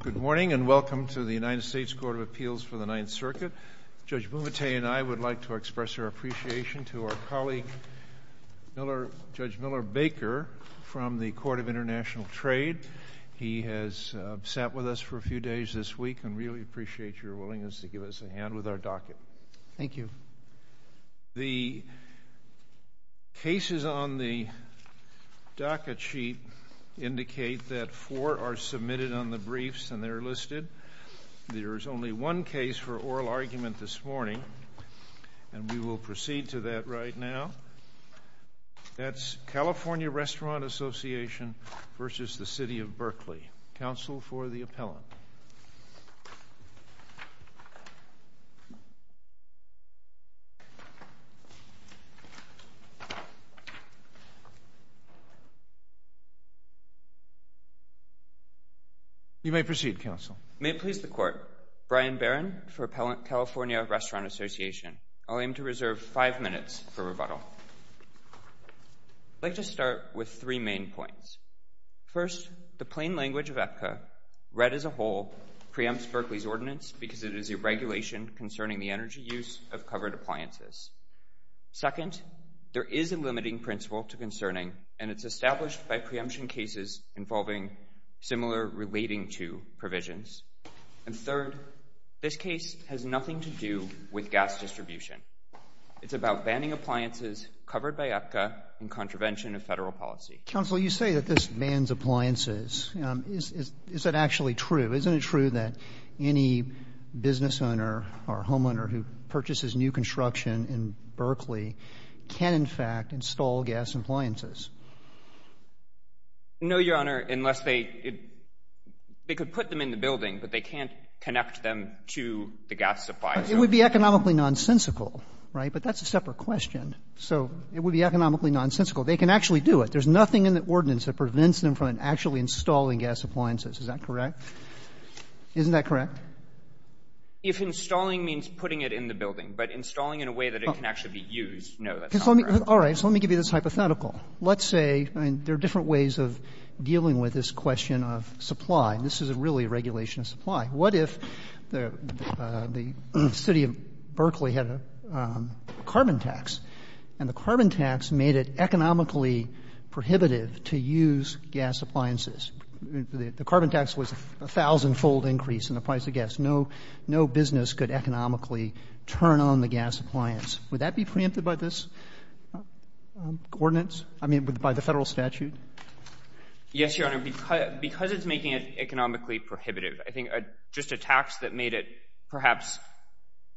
Good morning and welcome to the United States Court of Appeals for the Ninth Circuit. Judge Bumate and I would like to express our appreciation to our colleague, Judge Miller Baker, from the Court of International Trade. He has sat with us for a few days this week and we really appreciate your willingness to give us a hand with our docket. Thank you. The cases on the docket sheet indicate that four are submitted on the briefs and they're listed. There is only one case for oral argument this morning and we will proceed to that right now. That's California Restaurant Association v. the City of Berkeley. Counsel for the appellant. You may proceed, Counsel. May it please the Court. Brian Barron for Appellant California Restaurant Association. I'll aim to reserve five minutes for rebuttal. I'd like to start with three main points. First, the plain language of APCA, read as a whole, preempts Berkeley's ordinance because it is a regulation concerning the energy use of covered appliances. Second, there is a limiting principle to concerning and it's established by preemption cases involving similar relating to provisions. And third, this case has nothing to do with gas distribution. It's about banning appliances covered by APCA in contravention of federal policy. Counsel, you say that this bans appliances. Is that actually true? Isn't it true that any business owner or homeowner who purchases new construction in Berkeley can, in fact, install gas appliances? No, Your Honor, unless they could put them in the building, but they can't connect them to the gas supply. It would be economically nonsensical, right? But that's a separate question. So it would be economically nonsensical. They can actually do it. There's nothing in the ordinance that prevents them from actually installing gas appliances. Is that correct? Isn't that correct? If installing means putting it in the building, but installing in a way that it can actually be used, no, that's not correct. All right. So let me give you this hypothetical. Let's say there are different ways of dealing with this question of supply. This is really a regulation of supply. What if the city of Berkeley had a carbon tax, and the carbon tax made it economically prohibitive to use gas appliances? The carbon tax was a thousand-fold increase in the price of gas. No business could economically turn on the gas appliance. Would that be preempted by this ordinance, I mean, by the Federal statute? Yes, Your Honor, because it's making it economically prohibitive, I think just a tax that made it perhaps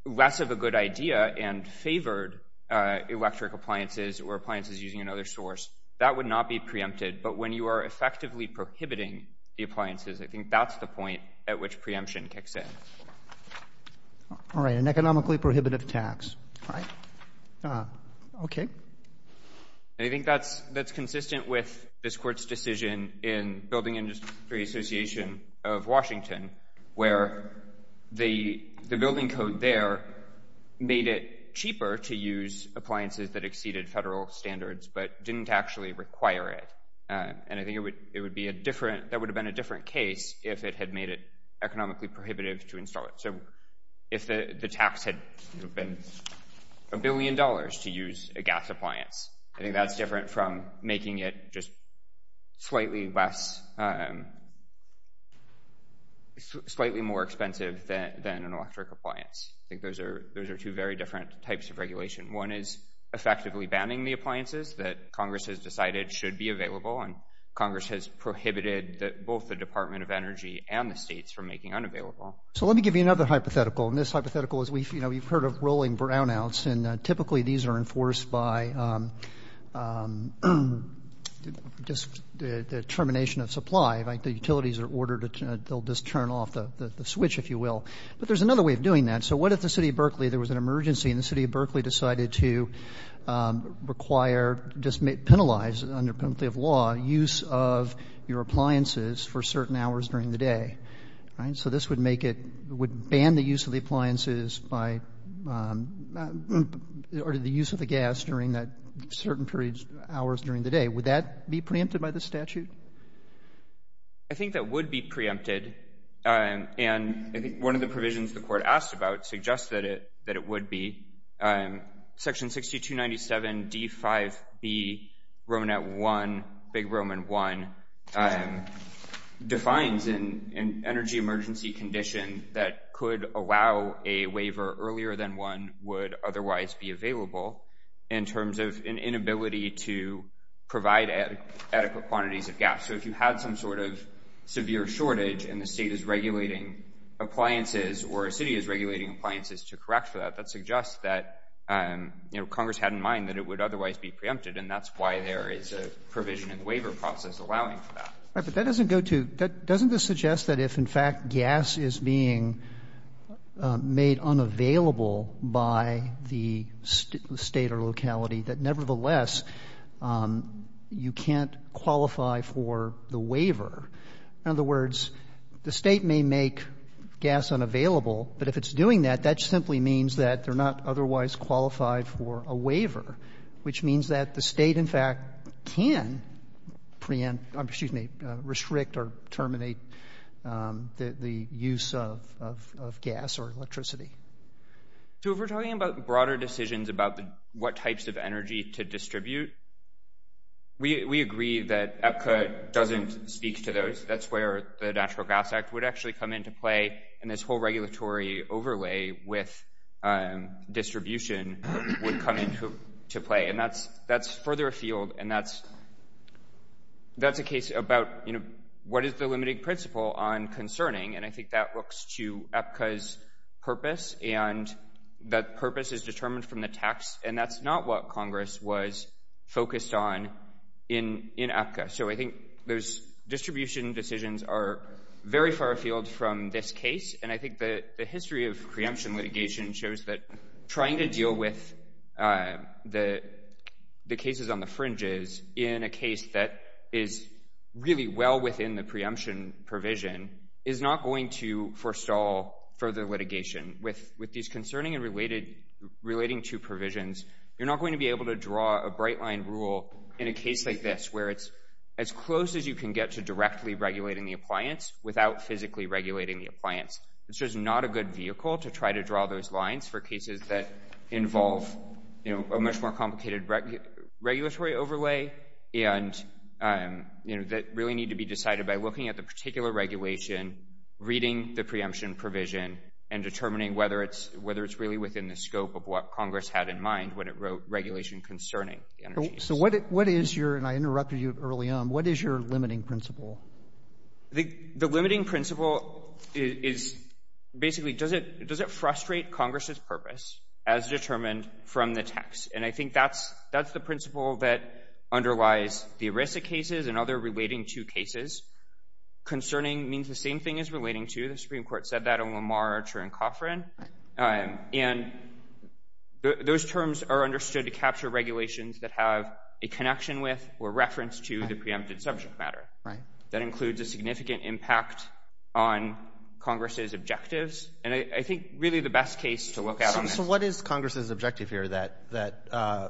less of a good idea and favored electric appliances or appliances using another source, that would not be preempted. But when you are effectively prohibiting the appliances, I think that's the point at which preemption kicks in. All right. An economically prohibitive tax. Right. Okay. And I think that's consistent with this Court's decision in Building Industry Association of Washington, where the building code there made it cheaper to use appliances that exceeded federal standards but didn't actually require it. And I think that would have been a different case if it had made it economically prohibitive to install it. So if the tax had been a billion dollars to use a gas appliance, I think that's different from making it just slightly more expensive than an electric appliance. I think those are two very different types of regulation. One is effectively banning the appliances that Congress has decided should be available. And Congress has prohibited both the Department of Energy and the states from making unavailable. So let me give you another hypothetical. And this hypothetical is, you know, you've heard of rolling brownouts. And typically these are enforced by just the termination of supply. The utilities are ordered to just turn off the switch, if you will. But there's another way of doing that. So what if the City of Berkeley, there was an emergency and the City of Berkeley decided to require, just penalize under penalty of law, use of your appliances for certain hours during the day, right? So this would make it — would ban the use of the appliances by — or the use of the gas during that certain periods, hours during the day. Would that be preempted by the statute? I think that would be preempted. And I think one of the provisions the court asked about suggests that it would be. Section 6297D5B, Romanette 1, Big Roman 1, defines an energy emergency condition that could allow a waiver earlier than one would otherwise be available in terms of an inability to provide adequate quantities of gas. So if you had some sort of severe shortage and the state is regulating appliances or a city is regulating appliances to correct for that, that suggests that, you know, Congress had in mind that it would otherwise be preempted. And that's why there is a provision in the waiver process allowing for that. But that doesn't go to — doesn't this suggest that if, in fact, gas is being made unavailable by the state or locality, that nevertheless you can't qualify for the waiver? In other words, the state may make gas unavailable, but if it's doing that, that simply means that they're not otherwise qualified for a waiver, which means that the state, in fact, can restrict or terminate the use of gas or electricity. So if we're talking about broader decisions about what types of energy to distribute, we agree that APCA doesn't speak to those. That's where the Natural Gas Act would actually come into play, and this whole regulatory overlay with distribution would come into play. And that's further afield, and that's a case about, you know, what is the limiting principle on concerning? And I think that looks to APCA's purpose, and that purpose is determined from the tax, and that's not what Congress was focused on in APCA. So I think those distribution decisions are very far afield from this case, and I think the history of preemption litigation shows that trying to deal with the cases on the fringes in a case that is really well within the preemption provision is not going to forestall further litigation. With these concerning and relating to provisions, you're not going to be able to draw a bright line rule in a case like this, where it's as close as you can get to directly regulating the appliance without physically regulating the appliance. It's just not a good vehicle to try to draw those lines for cases that involve, you know, a much more complicated regulatory overlay and, you know, that really need to be decided by looking at the particular regulation, reading the preemption provision, and determining whether it's really within the scope of what Congress had in mind when it wrote regulation concerning the energy use. So what is your, and I interrupted you early on, what is your limiting principle? The limiting principle is basically, does it frustrate Congress's purpose as determined from the tax? And I think that's the principle that underlies the ERISA cases and other relating to cases. Concerning means the same thing as relating to. The Supreme Court said that on Lamar, Archer, and Coffrin. And those terms are understood to capture regulations that have a connection with or reference to the preempted subject matter. Right. That includes a significant impact on Congress's objectives. And I think really the best case to look at on that. So what is Congress's objective here, that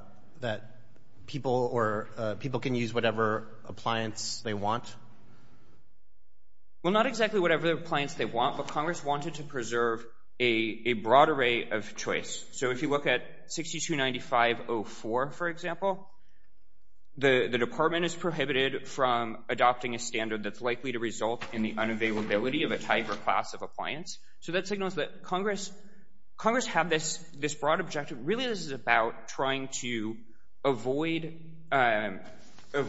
people can use whatever appliance they want? Well, not exactly whatever appliance they want, but Congress wanted to preserve a broad array of choice. So if you look at 629504, for example, the department is prohibited from adopting a standard that's likely to result in the unavailability of a type or class of appliance. So that signals that Congress have this broad objective. And really this is about trying to avoid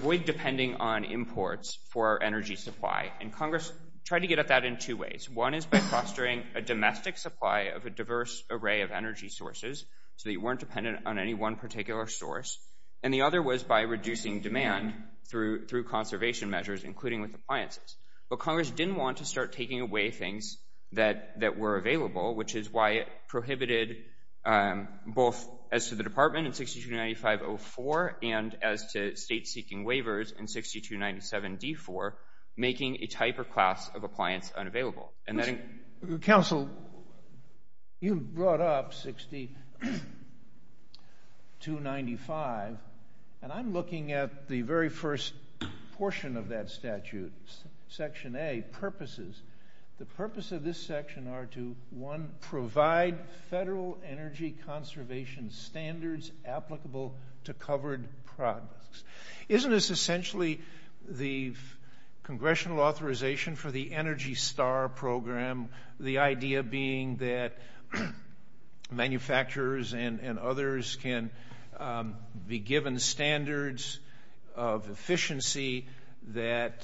depending on imports for energy supply. And Congress tried to get at that in two ways. One is by fostering a domestic supply of a diverse array of energy sources so that you weren't dependent on any one particular source. And the other was by reducing demand through conservation measures, including with appliances. But Congress didn't want to start taking away things that were available, which is why it prohibited both as to the department in 629504 and as to states seeking waivers in 6297D4 making a type or class of appliance unavailable. Counsel, you brought up 6295, and I'm looking at the very first portion of that statute, Section A, purposes. The purpose of this section are to, one, provide federal energy conservation standards applicable to covered products. Isn't this essentially the congressional authorization for the Energy Star Program, the idea being that manufacturers and others can be given standards of efficiency that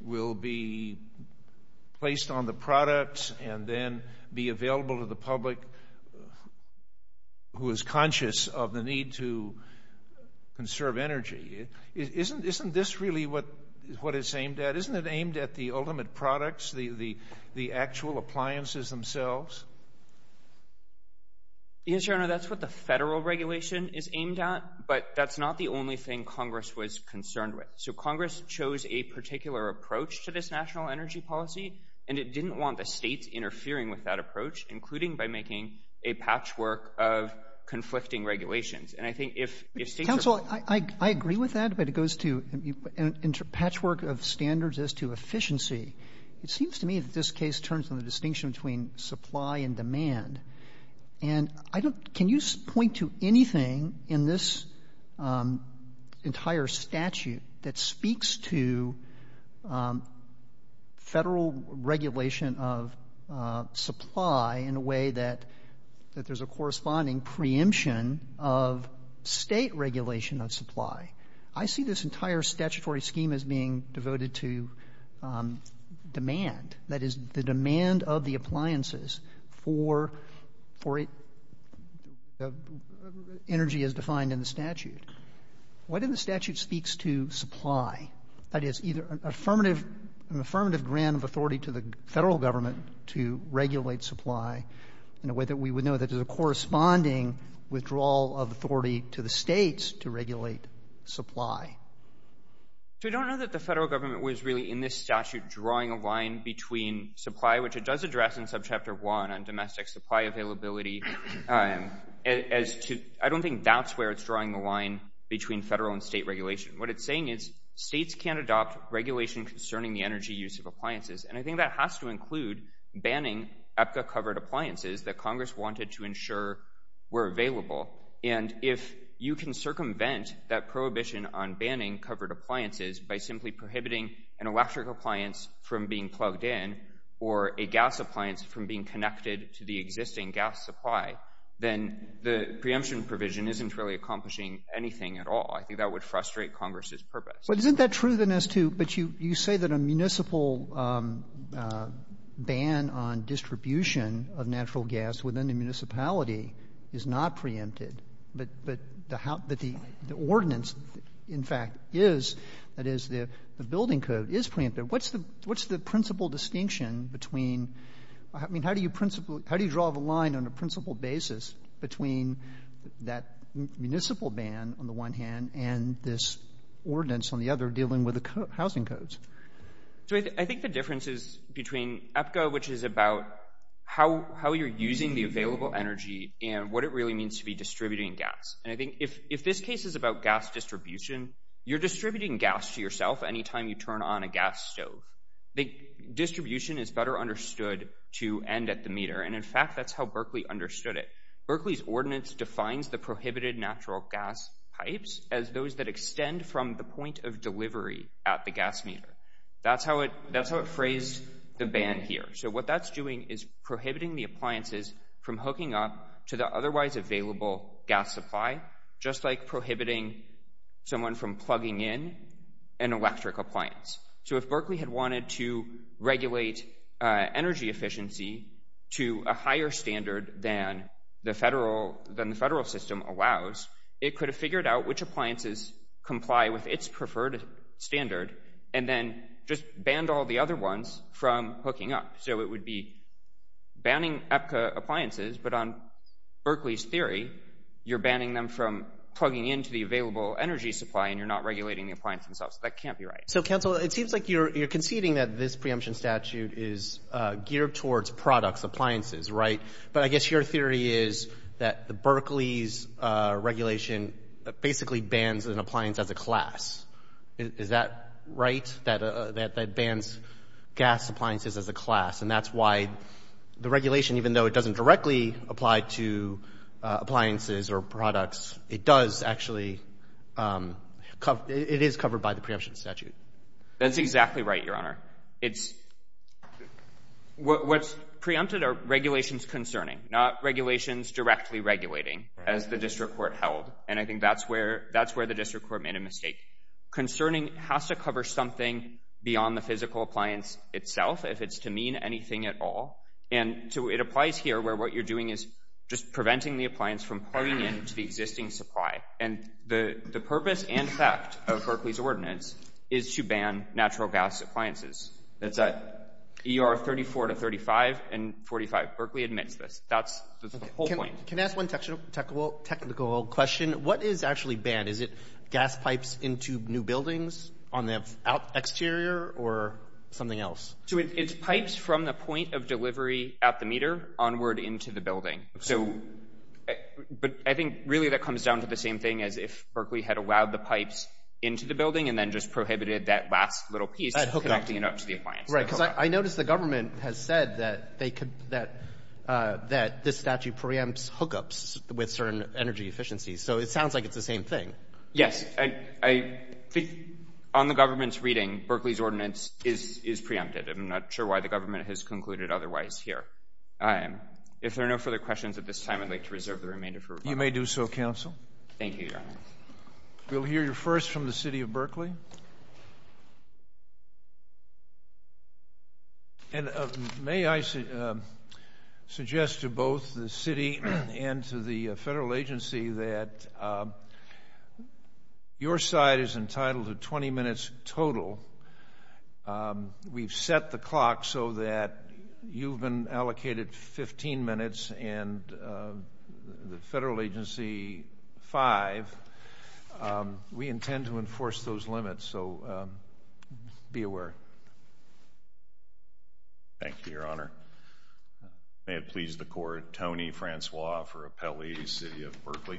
will be placed on the products and then be available to the public who is conscious of the need to conserve energy? Isn't this really what it's aimed at? Isn't it aimed at the ultimate products, the actual appliances themselves? Yes, Your Honor, that's what the federal regulation is aimed at, but that's not the only thing Congress was concerned with. So Congress chose a particular approach to this national energy policy, and it didn't want the states interfering with that approach, including by making a patchwork of conflicting regulations. Counsel, I agree with that, but it goes to a patchwork of standards as to efficiency. It seems to me that this case turns on the distinction between supply and demand. And can you point to anything in this entire statute that speaks to federal regulation of supply in a way that there's a corresponding preemption of state regulation of supply? I see this entire statutory scheme as being devoted to demand, that is, the demand of the appliances for energy as defined in the statute. Why doesn't the statute speak to supply? That is, an affirmative grant of authority to the federal government to regulate supply in a way that we would know that there's a corresponding withdrawal of authority to the states to regulate supply. We don't know that the federal government was really in this statute drawing a line between supply, which it does address in Subchapter 1 on domestic supply availability. I don't think that's where it's drawing the line between federal and state regulation. What it's saying is states can't adopt regulation concerning the energy use of appliances, and I think that has to include banning EPCA-covered appliances that Congress wanted to ensure were available. And if you can circumvent that prohibition on banning covered appliances by simply prohibiting an electric appliance from being plugged in or a gas appliance from being connected to the existing gas supply, then the preemption provision isn't really accomplishing anything at all. I think that would frustrate Congress's purpose. Isn't that true, then, as to you say that a municipal ban on distribution of natural gas within the municipality is not preempted, but the ordinance, in fact, is, that is, the building code is preempted? What's the principal distinction between, I mean, how do you draw the line on a principal basis between that municipal ban on the one hand and this ordinance on the other dealing with the housing codes? I think the difference is between EPCA, which is about how you're using the available energy and what it really means to be distributing gas. And I think if this case is about gas distribution, you're distributing gas to yourself any time you turn on a gas stove. Distribution is better understood to end at the meter, and, in fact, that's how Berkeley understood it. Berkeley's ordinance defines the prohibited natural gas pipes as those that extend from the point of delivery at the gas meter. That's how it phrased the ban here. So what that's doing is prohibiting the appliances from hooking up to the otherwise available gas supply, just like prohibiting someone from plugging in an electric appliance. So if Berkeley had wanted to regulate energy efficiency to a higher standard than the federal system allows, it could have figured out which appliances comply with its preferred standard and then just banned all the other ones from hooking up. So it would be banning EPCA appliances, but on Berkeley's theory, you're banning them from plugging into the available energy supply and you're not regulating the appliance themselves. That can't be right. So, counsel, it seems like you're conceding that this preemption statute is geared towards products, appliances, right? But I guess your theory is that the Berkeley's regulation basically bans an appliance as a class. Is that right, that it bans gas appliances as a class? And that's why the regulation, even though it doesn't directly apply to appliances or products, it does actually cover – it is covered by the preemption statute. That's exactly right, Your Honor. It's – what's preempted are regulations concerning, not regulations directly regulating, as the district court held. And I think that's where the district court made a mistake. Concerning has to cover something beyond the physical appliance itself if it's to mean anything at all. And it applies here where what you're doing is just preventing the appliance from plugging into the existing supply. And the purpose and fact of Berkeley's ordinance is to ban natural gas appliances. That's right. ER 34 to 35 and 45. Berkeley admits this. That's the whole point. Can I ask one technical question? What is actually banned? Is it gas pipes into new buildings on the exterior or something else? It's pipes from the point of delivery at the meter onward into the building. But I think really that comes down to the same thing as if Berkeley had allowed the pipes into the building and then just prohibited that last little piece connecting it up to the appliance. Right. Because I notice the government has said that this statute preempts hookups with certain energy efficiencies. So it sounds like it's the same thing. Yes. On the government's reading, Berkeley's ordinance is preempted. I'm not sure why the government has concluded otherwise here. If there are no further questions at this time, I'd like to reserve the remainder for rebuttal. You may do so, counsel. Thank you, Your Honor. We'll hear first from the city of Berkeley. May I suggest to both the city and to the federal agency that your side is entitled to 20 minutes total. We've set the clock so that you've been allocated 15 minutes and the federal agency, five, we intend to enforce those limits. So be aware. Thank you, Your Honor. May it please the court. Tony Francois for Appellee, city of Berkeley.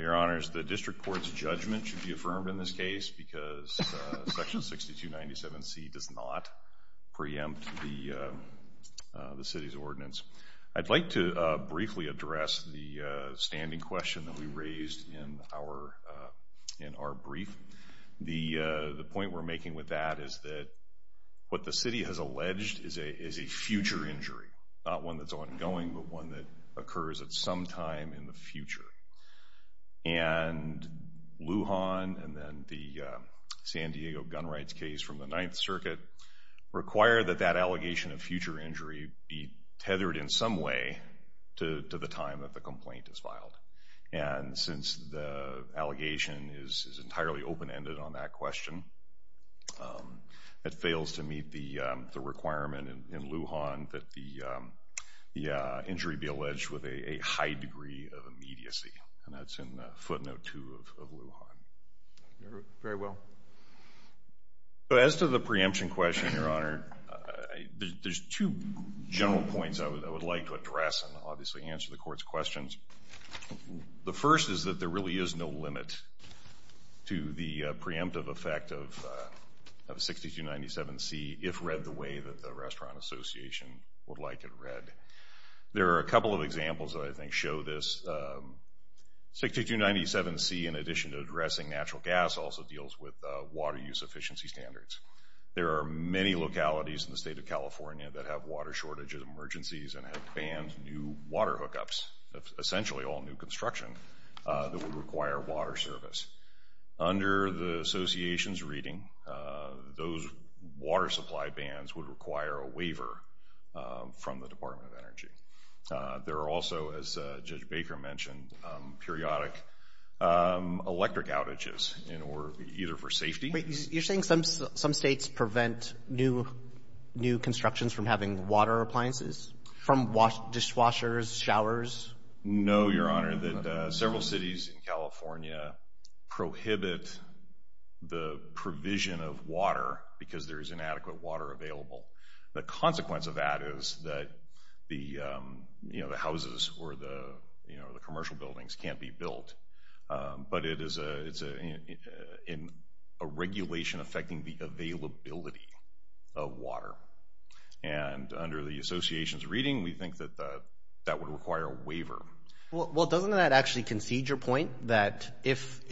Your Honors, the district court's judgment should be affirmed in this case because Section 6297C does not preempt the city's ordinance. I'd like to briefly address the standing question that we raised in our brief. The point we're making with that is that what the city has alleged is a future injury, not one that's ongoing but one that occurs at some time in the future. And Lujan and then the San Diego gun rights case from the Ninth Circuit require that that allegation of future injury be tethered in some way to the time that the complaint is filed. And since the allegation is entirely open-ended on that question, it fails to meet the requirement in Lujan that the injury be alleged with a high degree of immediacy, and that's in footnote 2 of Lujan. Very well. As to the preemption question, Your Honor, there's two general points I would like to address and obviously answer the court's questions. The first is that there really is no limit to the preemptive effect of 6297C if read the way that the Restaurant Association would like it read. There are a couple of examples that I think show this. 6297C, in addition to addressing natural gas, also deals with water use efficiency standards. There are many localities in the state of California that have water shortage emergencies and have banned new water hookups, essentially all new construction that would require water service. Under the Association's reading, those water supply bans would require a waiver from the Department of Energy. There are also, as Judge Baker mentioned, periodic electric outages, either for safety. You're saying some states prevent new constructions from having water appliances? From dishwashers, showers? No, Your Honor. Your Honor, several cities in California prohibit the provision of water because there is inadequate water available. The consequence of that is that the houses or the commercial buildings can't be built, but it's a regulation affecting the availability of water. Under the Association's reading, we think that that would require a waiver. Well, doesn't that actually concede your point, that if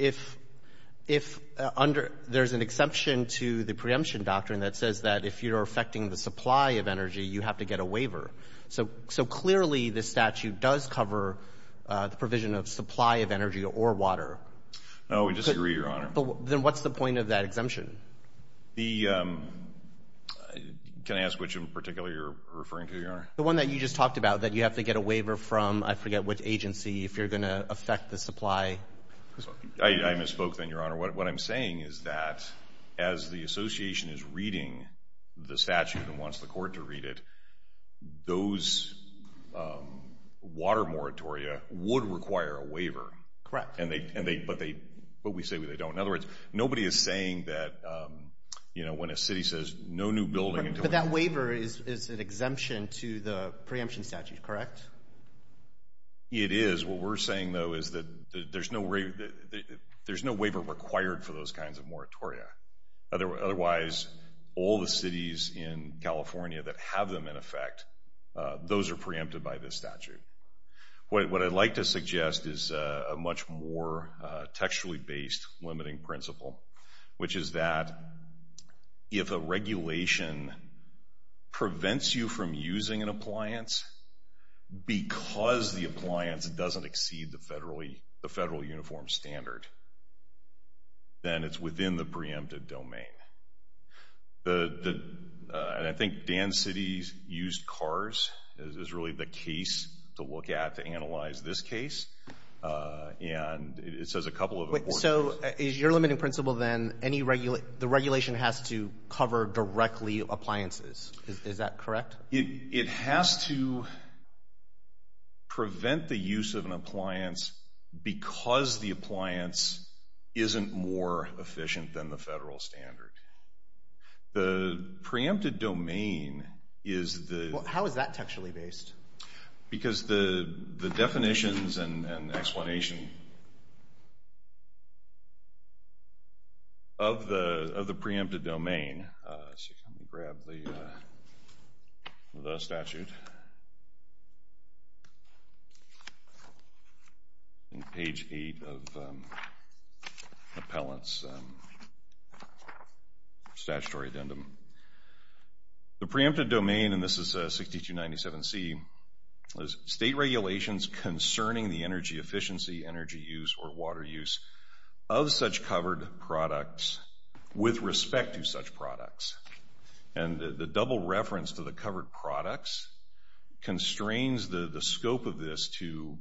there's an exception to the preemption doctrine that says that if you're affecting the supply of energy, you have to get a waiver? So clearly this statute does cover the provision of supply of energy or water. No, we disagree, Your Honor. Then what's the point of that exemption? The one that you just talked about, that you have to get a waiver from, I forget which agency, if you're going to affect the supply? I misspoke then, Your Honor. What I'm saying is that as the Association is reading the statute and wants the court to read it, those water moratoria would require a waiver. Correct. But we say they don't. In other words, nobody is saying that when a city says no new building until it's done. So that waiver is an exemption to the preemption statute, correct? It is. What we're saying, though, is that there's no waiver required for those kinds of moratoria. Otherwise, all the cities in California that have them in effect, those are preempted by this statute. What I'd like to suggest is a much more textually-based limiting principle, which is that if a regulation prevents you from using an appliance because the appliance doesn't exceed the federal uniform standard, then it's within the preempted domain. And I think Dan City's used cars is really the case to look at to analyze this case. And it says a couple of important things. So is your limiting principle then the regulation has to cover directly appliances? Is that correct? It has to prevent the use of an appliance because the appliance isn't more efficient than the federal standard. The preempted domain is the… How is that textually based? Because the definitions and explanation of the preempted domain… Let me grab the statute on page 8 of the appellant's statutory addendum. The preempted domain, and this is 6297C, is state regulations concerning the energy efficiency, energy use, or water use of such covered products with respect to such products. And the double reference to the covered products constrains the scope of this to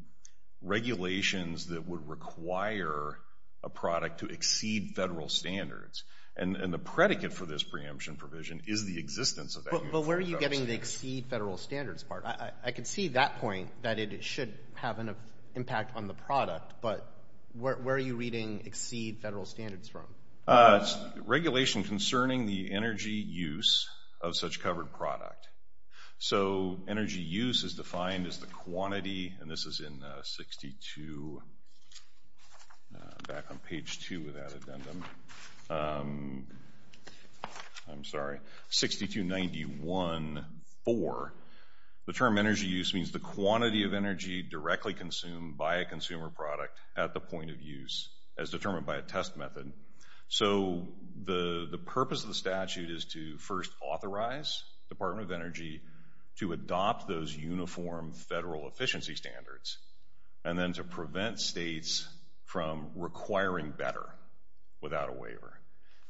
regulations that would require a product to exceed federal standards. And the predicate for this preemption provision is the existence of that uniform… But where are you getting the exceed federal standards part? I can see that point, that it should have an impact on the product, but where are you reading exceed federal standards from? It's regulation concerning the energy use of such covered product. So energy use is defined as the quantity, and this is in 62… Back on page 2 of that addendum. I'm sorry, 6291.4. The term energy use means the quantity of energy directly consumed by a consumer product at the point of use as determined by a test method. So the purpose of the statute is to first authorize the Department of Energy to adopt those uniform federal efficiency standards and then to prevent states from requiring better without a waiver.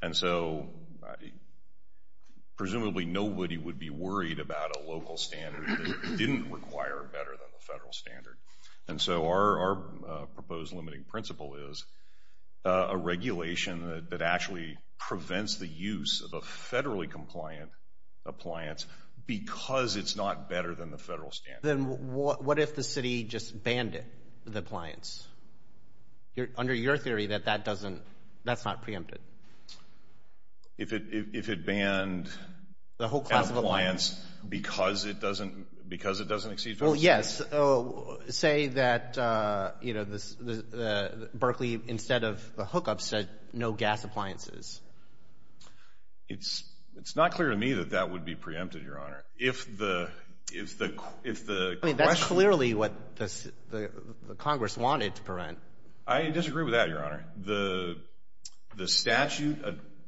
And so presumably nobody would be worried about a local standard that didn't require better than the federal standard. And so our proposed limiting principle is a regulation that actually prevents the use of a federally compliant appliance because it's not better than the federal standard. Then what if the city just banned the appliance? Under your theory, that's not preempted. If it banned the appliance because it doesn't exceed federal standards? Well, yes. Say that, you know, Berkeley, instead of the hookups, said no gas appliances. It's not clear to me that that would be preempted, Your Honor. If the question… I mean, that's clearly what Congress wanted to prevent. I disagree with that, Your Honor. The statute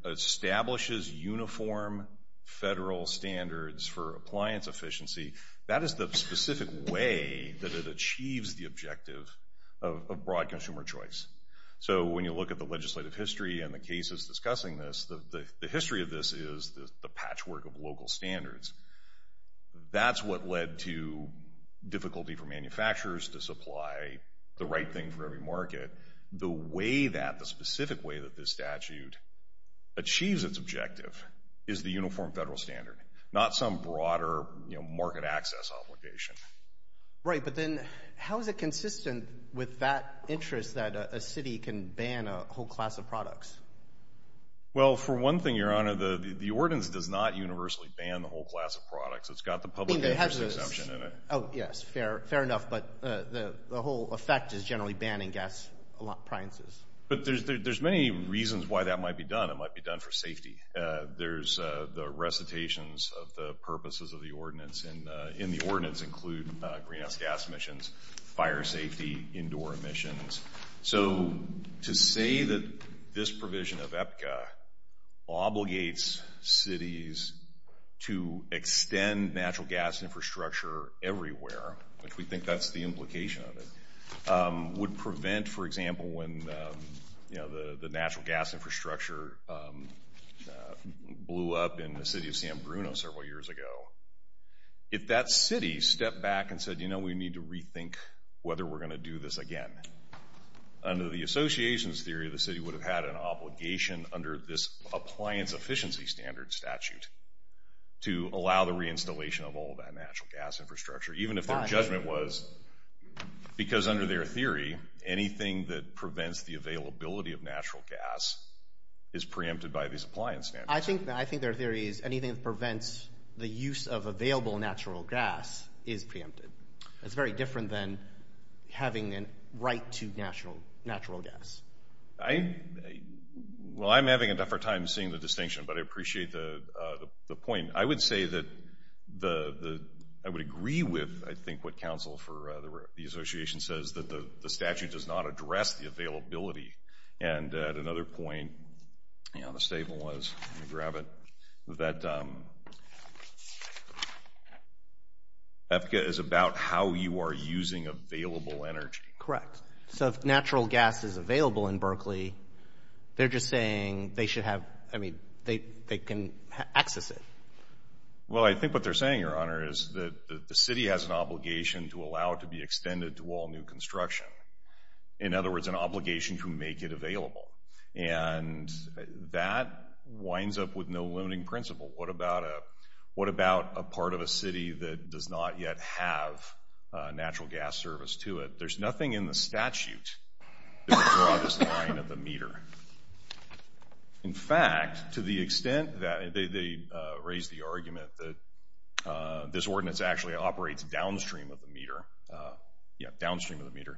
establishes uniform federal standards for appliance efficiency. That is the specific way that it achieves the objective of broad consumer choice. So when you look at the legislative history and the cases discussing this, the history of this is the patchwork of local standards. That's what led to difficulty for manufacturers to supply the right thing for every market. The way that, the specific way that this statute achieves its objective is the uniform federal standard, not some broader market access obligation. Right. But then how is it consistent with that interest that a city can ban a whole class of products? Well, for one thing, Your Honor, the ordinance does not universally ban the whole class of products. It's got the public interest exemption in it. Oh, yes. Fair enough. But the whole effect is generally banning gas appliances. It might be done for safety. There's the recitations of the purposes of the ordinance. And in the ordinance include greenhouse gas emissions, fire safety, indoor emissions. So to say that this provision of EPCA obligates cities to extend natural gas infrastructure everywhere, which we think that's the implication of it, would prevent, for example, when the natural gas infrastructure blew up in the city of San Bruno several years ago, if that city stepped back and said, you know, we need to rethink whether we're going to do this again. Under the association's theory, the city would have had an obligation under this appliance efficiency standard statute to allow the reinstallation of all that natural gas infrastructure, even if their judgment was because under their theory, anything that prevents the availability of natural gas is preempted by this appliance standard. I think their theory is anything that prevents the use of available natural gas is preempted. It's very different than having a right to natural gas. Well, I'm having a tougher time seeing the distinction, but I appreciate the point. I would say that I would agree with, I think, what counsel for the association says, that the statute does not address the availability. And at another point, you know, the statement was, let me grab it, that EPCA is about how you are using available energy. Correct. So if natural gas is available in Berkeley, they're just saying they should have, I mean, they can access it. Well, I think what they're saying, Your Honor, is that the city has an obligation to allow it to be extended to all new construction. In other words, an obligation to make it available. And that winds up with no limiting principle. What about a part of a city that does not yet have natural gas service to it? There's nothing in the statute that would draw this line of the meter. In fact, to the extent that they raise the argument that this ordinance actually operates downstream of the meter, yeah, downstream of the meter,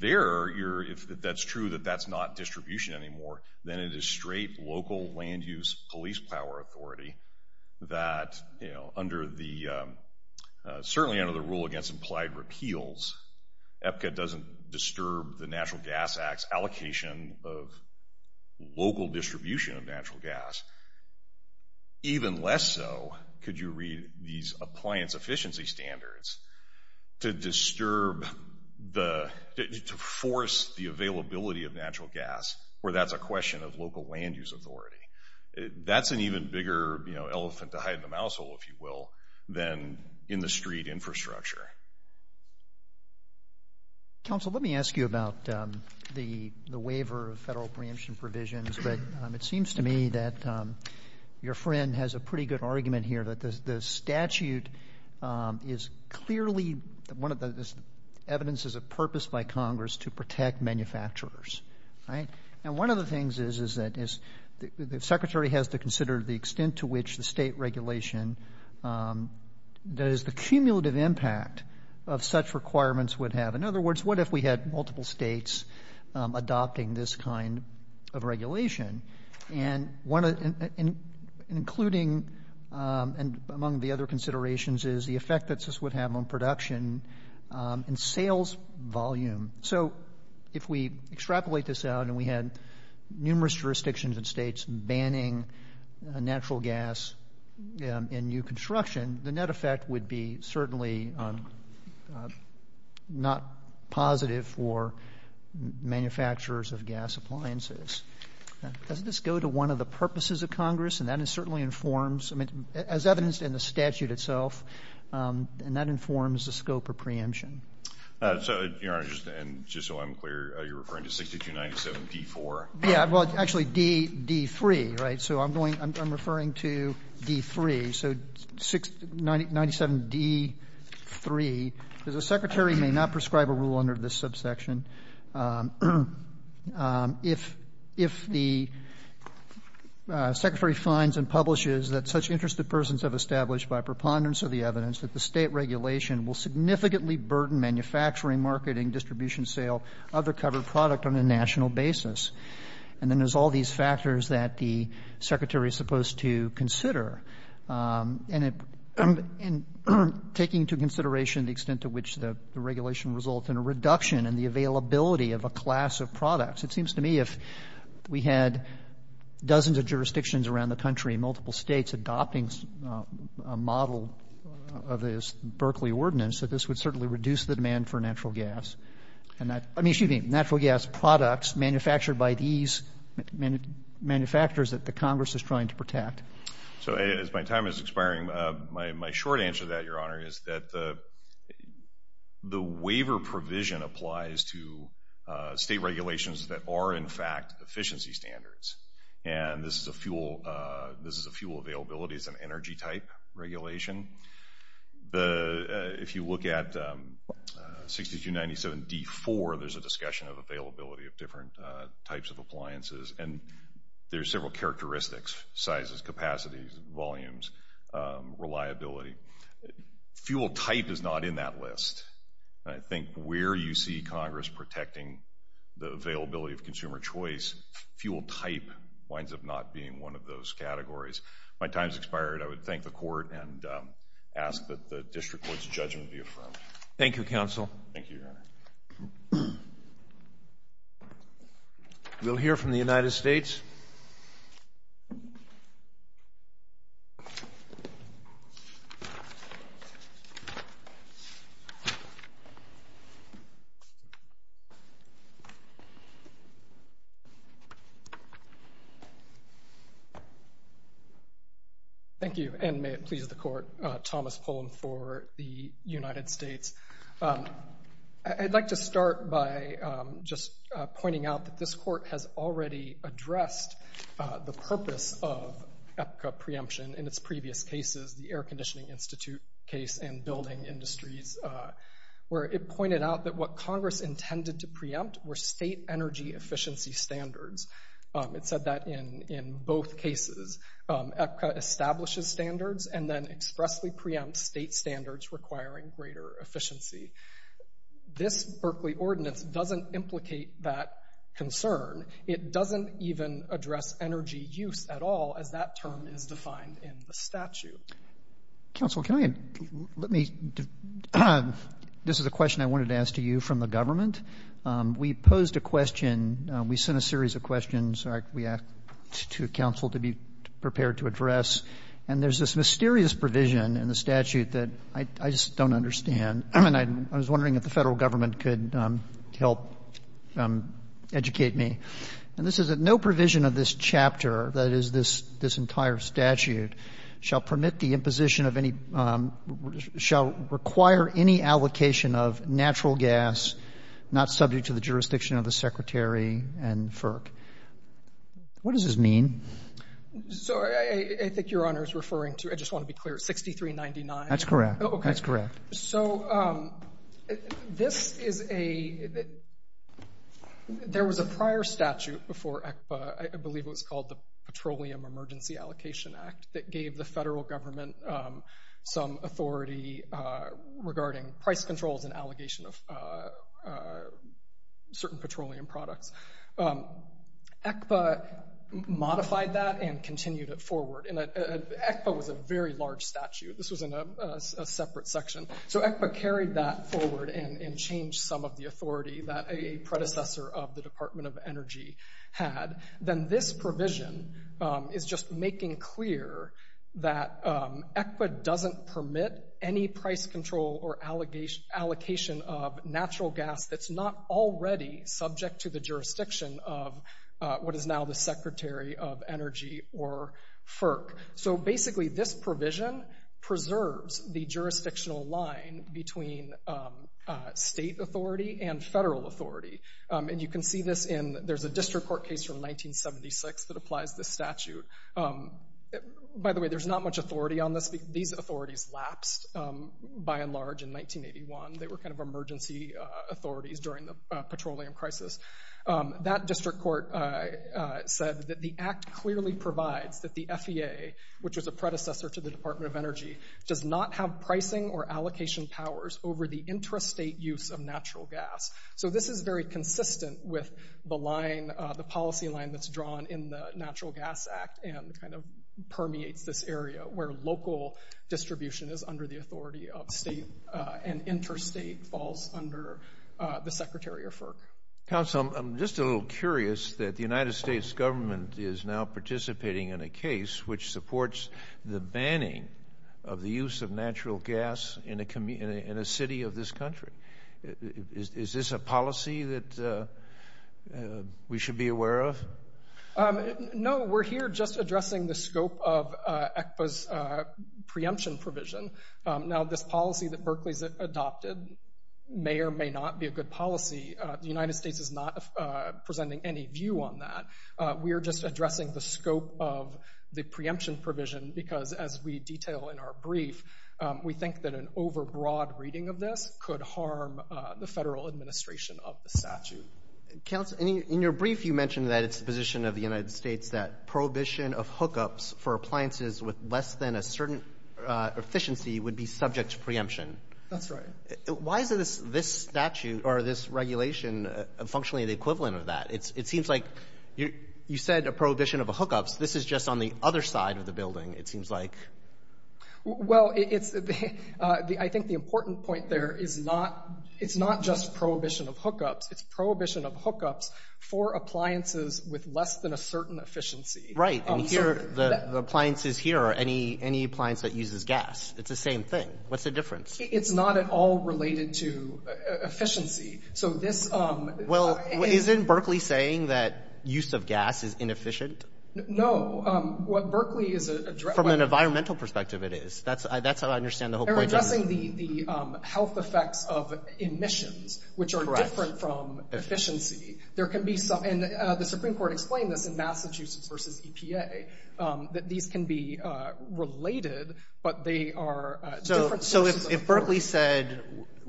there, if that's true, that that's not distribution anymore, then it is straight local land use police power authority that, you know, certainly under the rule against implied repeals, EPCA doesn't disturb the Natural Gas Act's allocation of local distribution of natural gas. Even less so, could you read these appliance efficiency standards to disturb the, to force the availability of natural gas where that's a question of local land use authority. That's an even bigger, you know, elephant to hide in the mouse hole, if you will, than in the street infrastructure. Counsel, let me ask you about the waiver of federal preemption provisions. It seems to me that your friend has a pretty good argument here that the statute is clearly, one of the evidences of purpose by Congress to protect manufacturers. And one of the things is that the secretary has to consider the extent to which the state regulation, that is the cumulative impact of such requirements would have. In other words, what if we had multiple states adopting this kind of regulation? And including among the other considerations is the effect that this would have on production and sales volume. So if we extrapolate this out and we had numerous jurisdictions and states banning natural gas in new construction, the net effect would be certainly not positive for manufacturers of gas appliances. Does this go to one of the purposes of Congress? And that certainly informs, as evidenced in the statute itself, and that informs the scope of preemption. So, Your Honor, and just so I'm clear, you're referring to 6297d-4? Yeah. Well, actually, d-3, right? So I'm going to, I'm referring to d-3. So 6297d-3. The secretary may not prescribe a rule under this subsection. If the secretary finds and publishes that such interested persons have established by preponderance of the evidence that the State regulation will significantly burden manufacturing, marketing, distribution, sale, other covered product on a national basis, and then there's all these factors that the secretary is supposed to consider. And it, in taking into consideration the extent to which the regulation results in a reduction in the availability of a class of products, it seems to me if we had dozens of jurisdictions around the country, multiple states adopting a model of this Berkeley ordinance, that this would certainly reduce the demand for natural gas. And that, I mean, excuse me, natural gas products manufactured by these manufacturers that the Congress is trying to protect. So as my time is expiring, my short answer to that, Your Honor, is that the waiver provision applies to state regulations that are, in fact, efficiency standards. And this is a fuel availability, it's an energy type regulation. If you look at 6297d-4, there's a discussion of availability of different types of appliances. And there's several characteristics, sizes, capacities, volumes, reliability. Fuel type is not in that list. And I think where you see Congress protecting the availability of consumer choice, fuel type winds up not being one of those categories. My time has expired. I would thank the Court and ask that the District Court's judgment be affirmed. Thank you, Counsel. Thank you, Your Honor. We'll hear from the United States. Thank you. Thank you, and may it please the Court, Thomas Pullen for the United States. I'd like to start by just pointing out that this Court has already addressed the purpose of EPCA preemption in its previous cases, the Air Conditioning Institute case and building industries, where it pointed out that what Congress intended to preempt were state energy efficiency standards. It said that in both cases. EPCA establishes standards and then expressly preempts state standards requiring greater efficiency. This Berkeley Ordinance doesn't implicate that concern. It doesn't even address energy use at all, as that term is defined in the statute. Counsel, can I add, let me, this is a question I wanted to ask to you from the government. We posed a question, we sent a series of questions, we asked to counsel to be prepared to address, and there's this mysterious provision in the statute that I just don't understand. And I was wondering if the Federal Government could help educate me. And this is that no provision of this chapter, that is, this entire statute, shall permit the imposition of any, shall require any allocation of natural gas not subject to the jurisdiction of the Secretary and FERC. What does this mean? So I think Your Honor is referring to, I just want to be clear, 6399. That's correct. So this is a, there was a prior statute before ECPA, I believe it was called the Petroleum Emergency Allocation Act, that gave the Federal Government some authority regarding price controls and allegation of certain petroleum products. ECPA modified that and continued it forward. And ECPA was a very large statute. This was in a separate section. So ECPA carried that forward and changed some of the authority that a predecessor of the Department of Energy had. Then this provision is just making clear that ECPA doesn't permit any price control or allocation of natural gas that's not already subject to the jurisdiction of what is now the Secretary of Energy or FERC. So basically this provision preserves the jurisdictional line between state authority and federal authority. And you can see this in, there's a district court case from 1976 that applies this statute. By the way, there's not much authority on this. These authorities lapsed by and large in 1981. They were kind of emergency authorities during the petroleum crisis. That district court said that the act clearly provides that the FEA, which was a predecessor to the Department of Energy, does not have pricing or allocation powers over the interstate use of natural gas. So this is very consistent with the policy line that's drawn in the Natural Gas Act and kind of permeates this area where local distribution is under the authority of state and interstate falls under the Secretary of FERC. Counsel, I'm just a little curious that the United States government is now participating in a case which supports the banning of the use of natural gas in a city of this country. Is this a policy that we should be aware of? No, we're here just addressing the scope of ECPA's preemption provision. Now, this policy that Berkeley's adopted may or may not be a good policy. The United States is not presenting any view on that. We are just addressing the scope of the preemption provision because, as we detail in our brief, we think that an overbroad reading of this could harm the federal administration of the statute. Counsel, in your brief you mentioned that it's the position of the United States that prohibition of hookups for appliances with less than a certain efficiency would be subject to preemption. That's right. Why is this statute or this regulation functionally the equivalent of that? It seems like you said a prohibition of hookups. This is just on the other side of the building, it seems like. Well, I think the important point there is it's not just prohibition of hookups. It's prohibition of hookups for appliances with less than a certain efficiency. Right. And here, the appliances here are any appliance that uses gas. It's the same thing. What's the difference? It's not at all related to efficiency. So this— Well, isn't Berkeley saying that use of gas is inefficient? No. What Berkeley is— From an environmental perspective, it is. That's how I understand the whole point. It's addressing the health effects of emissions, which are different from efficiency. There can be some—and the Supreme Court explained this in Massachusetts v. EPA, that these can be related, but they are different sources of— So if Berkeley said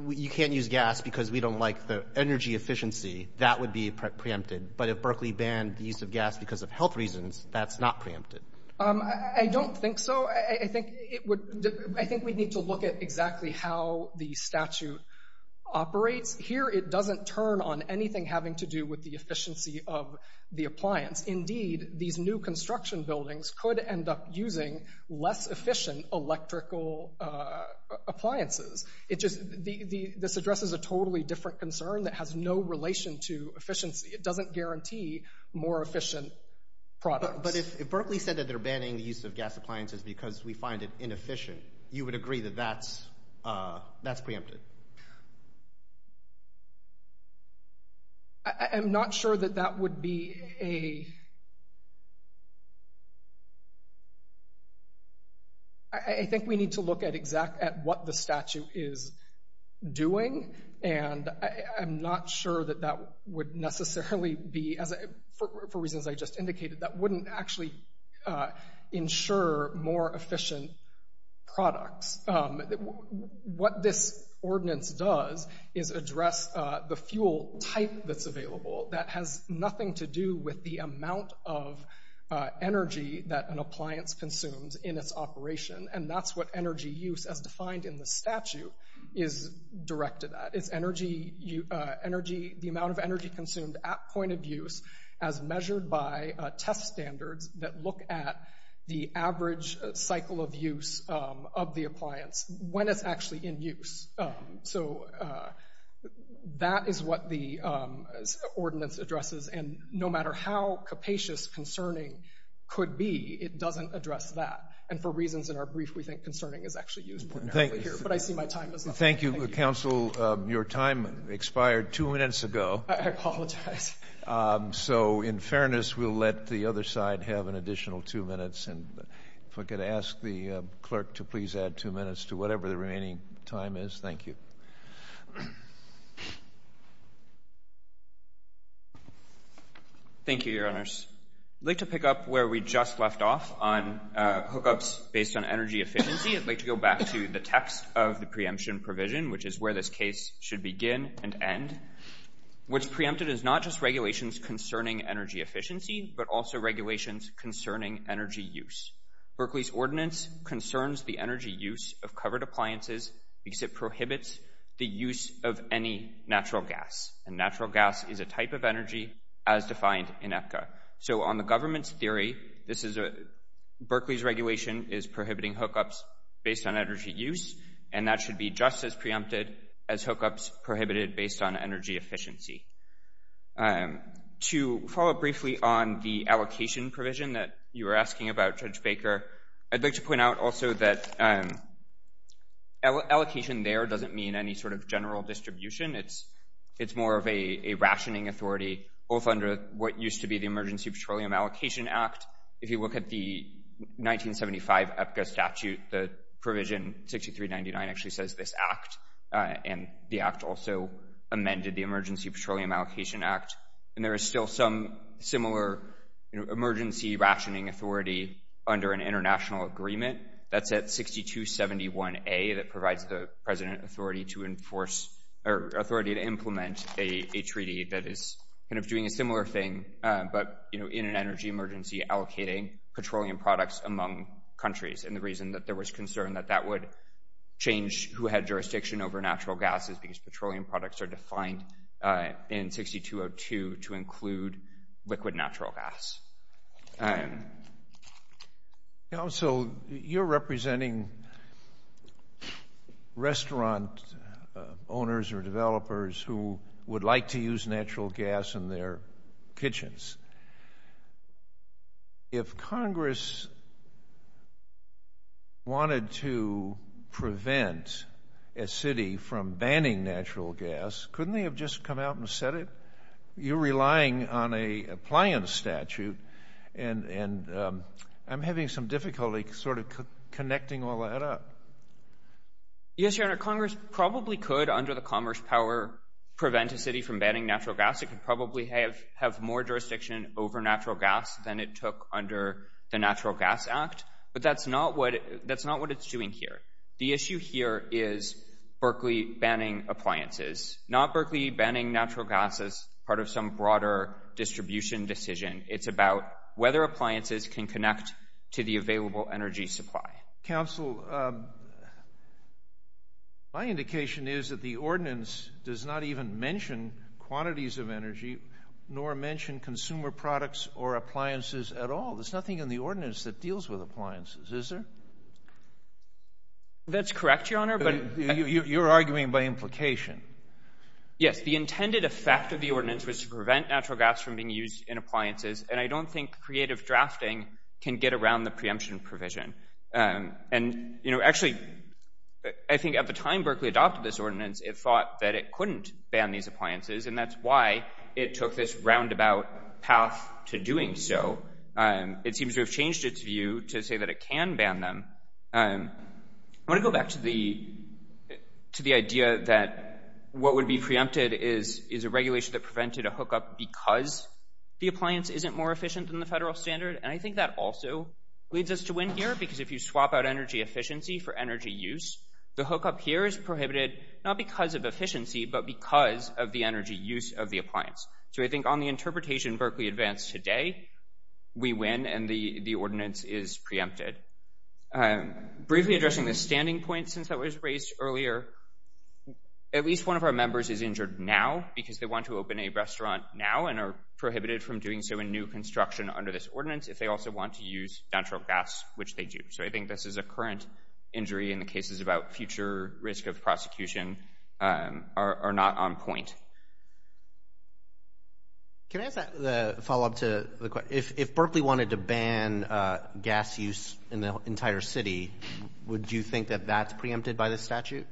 you can't use gas because we don't like the energy efficiency, that would be preempted. But if Berkeley banned the use of gas because of health reasons, that's not preempted. I don't think so. I think we need to look at exactly how the statute operates. Here, it doesn't turn on anything having to do with the efficiency of the appliance. Indeed, these new construction buildings could end up using less efficient electrical appliances. This addresses a totally different concern that has no relation to efficiency. It doesn't guarantee more efficient products. But if Berkeley said that they're banning the use of gas appliances because we find it inefficient, you would agree that that's preempted? I'm not sure that that would be a— I think we need to look at what the statute is doing, and I'm not sure that that would necessarily be— actually ensure more efficient products. What this ordinance does is address the fuel type that's available that has nothing to do with the amount of energy that an appliance consumes in its operation. And that's what energy use, as defined in the statute, is directed at. It's the amount of energy consumed at point of use as measured by test standards that look at the average cycle of use of the appliance when it's actually in use. So that is what the ordinance addresses. And no matter how capacious concerning could be, it doesn't address that. And for reasons in our brief, we think concerning is actually used more narrowly here, but I see my time is up. Thank you, counsel. Your time expired two minutes ago. I apologize. So in fairness, we'll let the other side have an additional two minutes. And if I could ask the clerk to please add two minutes to whatever the remaining time is. Thank you. Thank you, Your Honors. I'd like to pick up where we just left off on hookups based on energy efficiency. I'd like to go back to the text of the preemption provision, which is where this case should begin and end. What's preempted is not just regulations concerning energy efficiency, but also regulations concerning energy use. Berkeley's ordinance concerns the energy use of covered appliances because it prohibits the use of any natural gas. And natural gas is a type of energy as defined in EPCA. So on the government's theory, Berkeley's regulation is prohibiting hookups based on energy use, and that should be just as preempted as hookups prohibited based on energy efficiency. To follow up briefly on the allocation provision that you were asking about, Judge Baker, I'd like to point out also that allocation there doesn't mean any sort of general distribution. It's more of a rationing authority, both under what used to be the Emergency Petroleum Allocation Act. If you look at the 1975 EPCA statute, the provision 6399 actually says this act, and the act also amended the Emergency Petroleum Allocation Act. And there is still some similar emergency rationing authority under an international agreement. That's at 6271A that provides the president authority to enforce or authority to implement a treaty that is kind of doing a similar thing, but in an energy emergency allocating petroleum products among countries. And the reason that there was concern that that would change who had jurisdiction over natural gas is because petroleum products are defined in 6202 to include liquid natural gas. All right. So you're representing restaurant owners or developers who would like to use natural gas in their kitchens. If Congress wanted to prevent a city from banning natural gas, couldn't they have just come out and said it? You're relying on a appliance statute, and I'm having some difficulty sort of connecting all that up. Yes, Your Honor. Congress probably could, under the Commerce Power, prevent a city from banning natural gas. It could probably have more jurisdiction over natural gas than it took under the Natural Gas Act, but that's not what it's doing here. The issue here is Berkeley banning appliances, not Berkeley banning natural gas as part of some broader distribution decision. It's about whether appliances can connect to the available energy supply. Counsel, my indication is that the ordinance does not even mention quantities of energy nor mention consumer products or appliances at all. There's nothing in the ordinance that deals with appliances, is there? That's correct, Your Honor. You're arguing by implication. Yes, the intended effect of the ordinance was to prevent natural gas from being used in appliances, and I don't think creative drafting can get around the preemption provision. Actually, I think at the time Berkeley adopted this ordinance, it thought that it couldn't ban these appliances, and that's why it took this roundabout path to doing so. It seems to have changed its view to say that it can ban them. I want to go back to the idea that what would be preempted is a regulation that prevented a hookup because the appliance isn't more efficient than the federal standard, and I think that also leads us to win here because if you swap out energy efficiency for energy use, the hookup here is prohibited not because of efficiency but because of the energy use of the appliance. So I think on the interpretation Berkeley advanced today, we win and the ordinance is preempted. Briefly addressing the standing point since that was raised earlier, at least one of our members is injured now because they want to open a restaurant now and are prohibited from doing so in new construction under this ordinance if they also want to use natural gas, which they do. So I think this is a current injury, and the cases about future risk of prosecution are not on point. Can I ask a follow-up to the question? If Berkeley wanted to ban gas use in the entire city, would you think that that's preempted by this statute?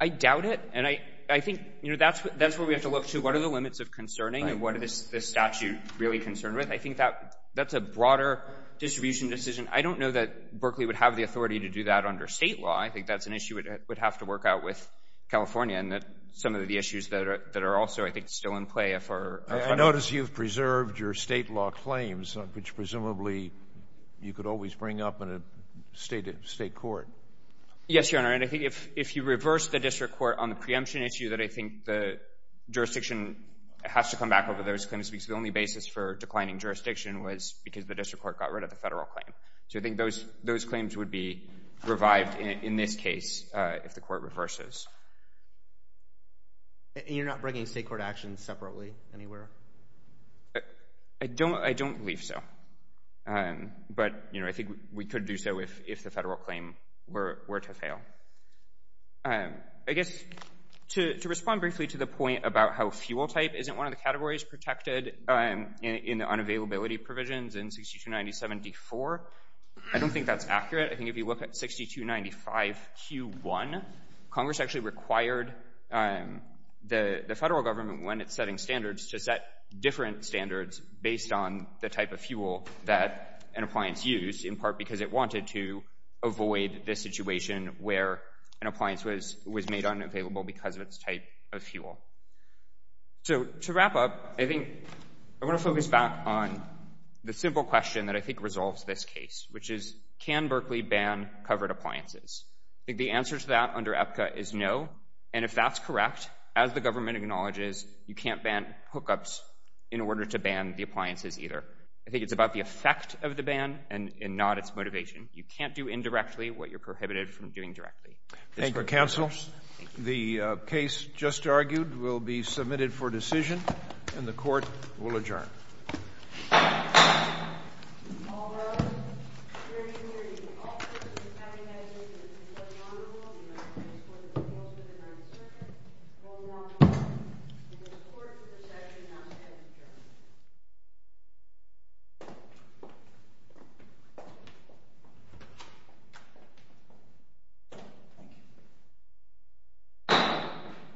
I doubt it, and I think that's where we have to look to what are the limits of concerning and what is this statute really concerned with? I think that's a broader distribution decision. I don't know that Berkeley would have the authority to do that under state law. I think that's an issue that would have to work out with California and that some of the issues that are also, I think, still in play. I notice you've preserved your state law claims, which presumably you could always bring up in a state court. Yes, Your Honor, and I think if you reverse the district court on the preemption issue, that I think the jurisdiction has to come back over those claims because the only basis for declining jurisdiction was because the district court got rid of the federal claim. So I think those claims would be revived in this case if the court reverses. And you're not bringing state court actions separately anywhere? I don't believe so, but I think we could do so if the federal claim were to fail. I guess to respond briefly to the point about how fuel type isn't one of the categories protected in the unavailability provisions in 6297-D4, I don't think that's accurate. I think if you look at 6295-Q1, Congress actually required the federal government, when it's setting standards, to set different standards based on the type of fuel that an appliance used, in part because it wanted to avoid the situation where an appliance was made unavailable because of its type of fuel. So to wrap up, I think I want to focus back on the simple question that I think resolves this case, which is can Berkeley ban covered appliances? I think the answer to that under EPCA is no, and if that's correct, as the government acknowledges, you can't ban hookups in order to ban the appliances either. I think it's about the effect of the ban and not its motivation. You can't do indirectly what you're prohibited from doing directly. Thank you, counsel. The case just argued will be submitted for decision, and the court will adjourn. Thank you.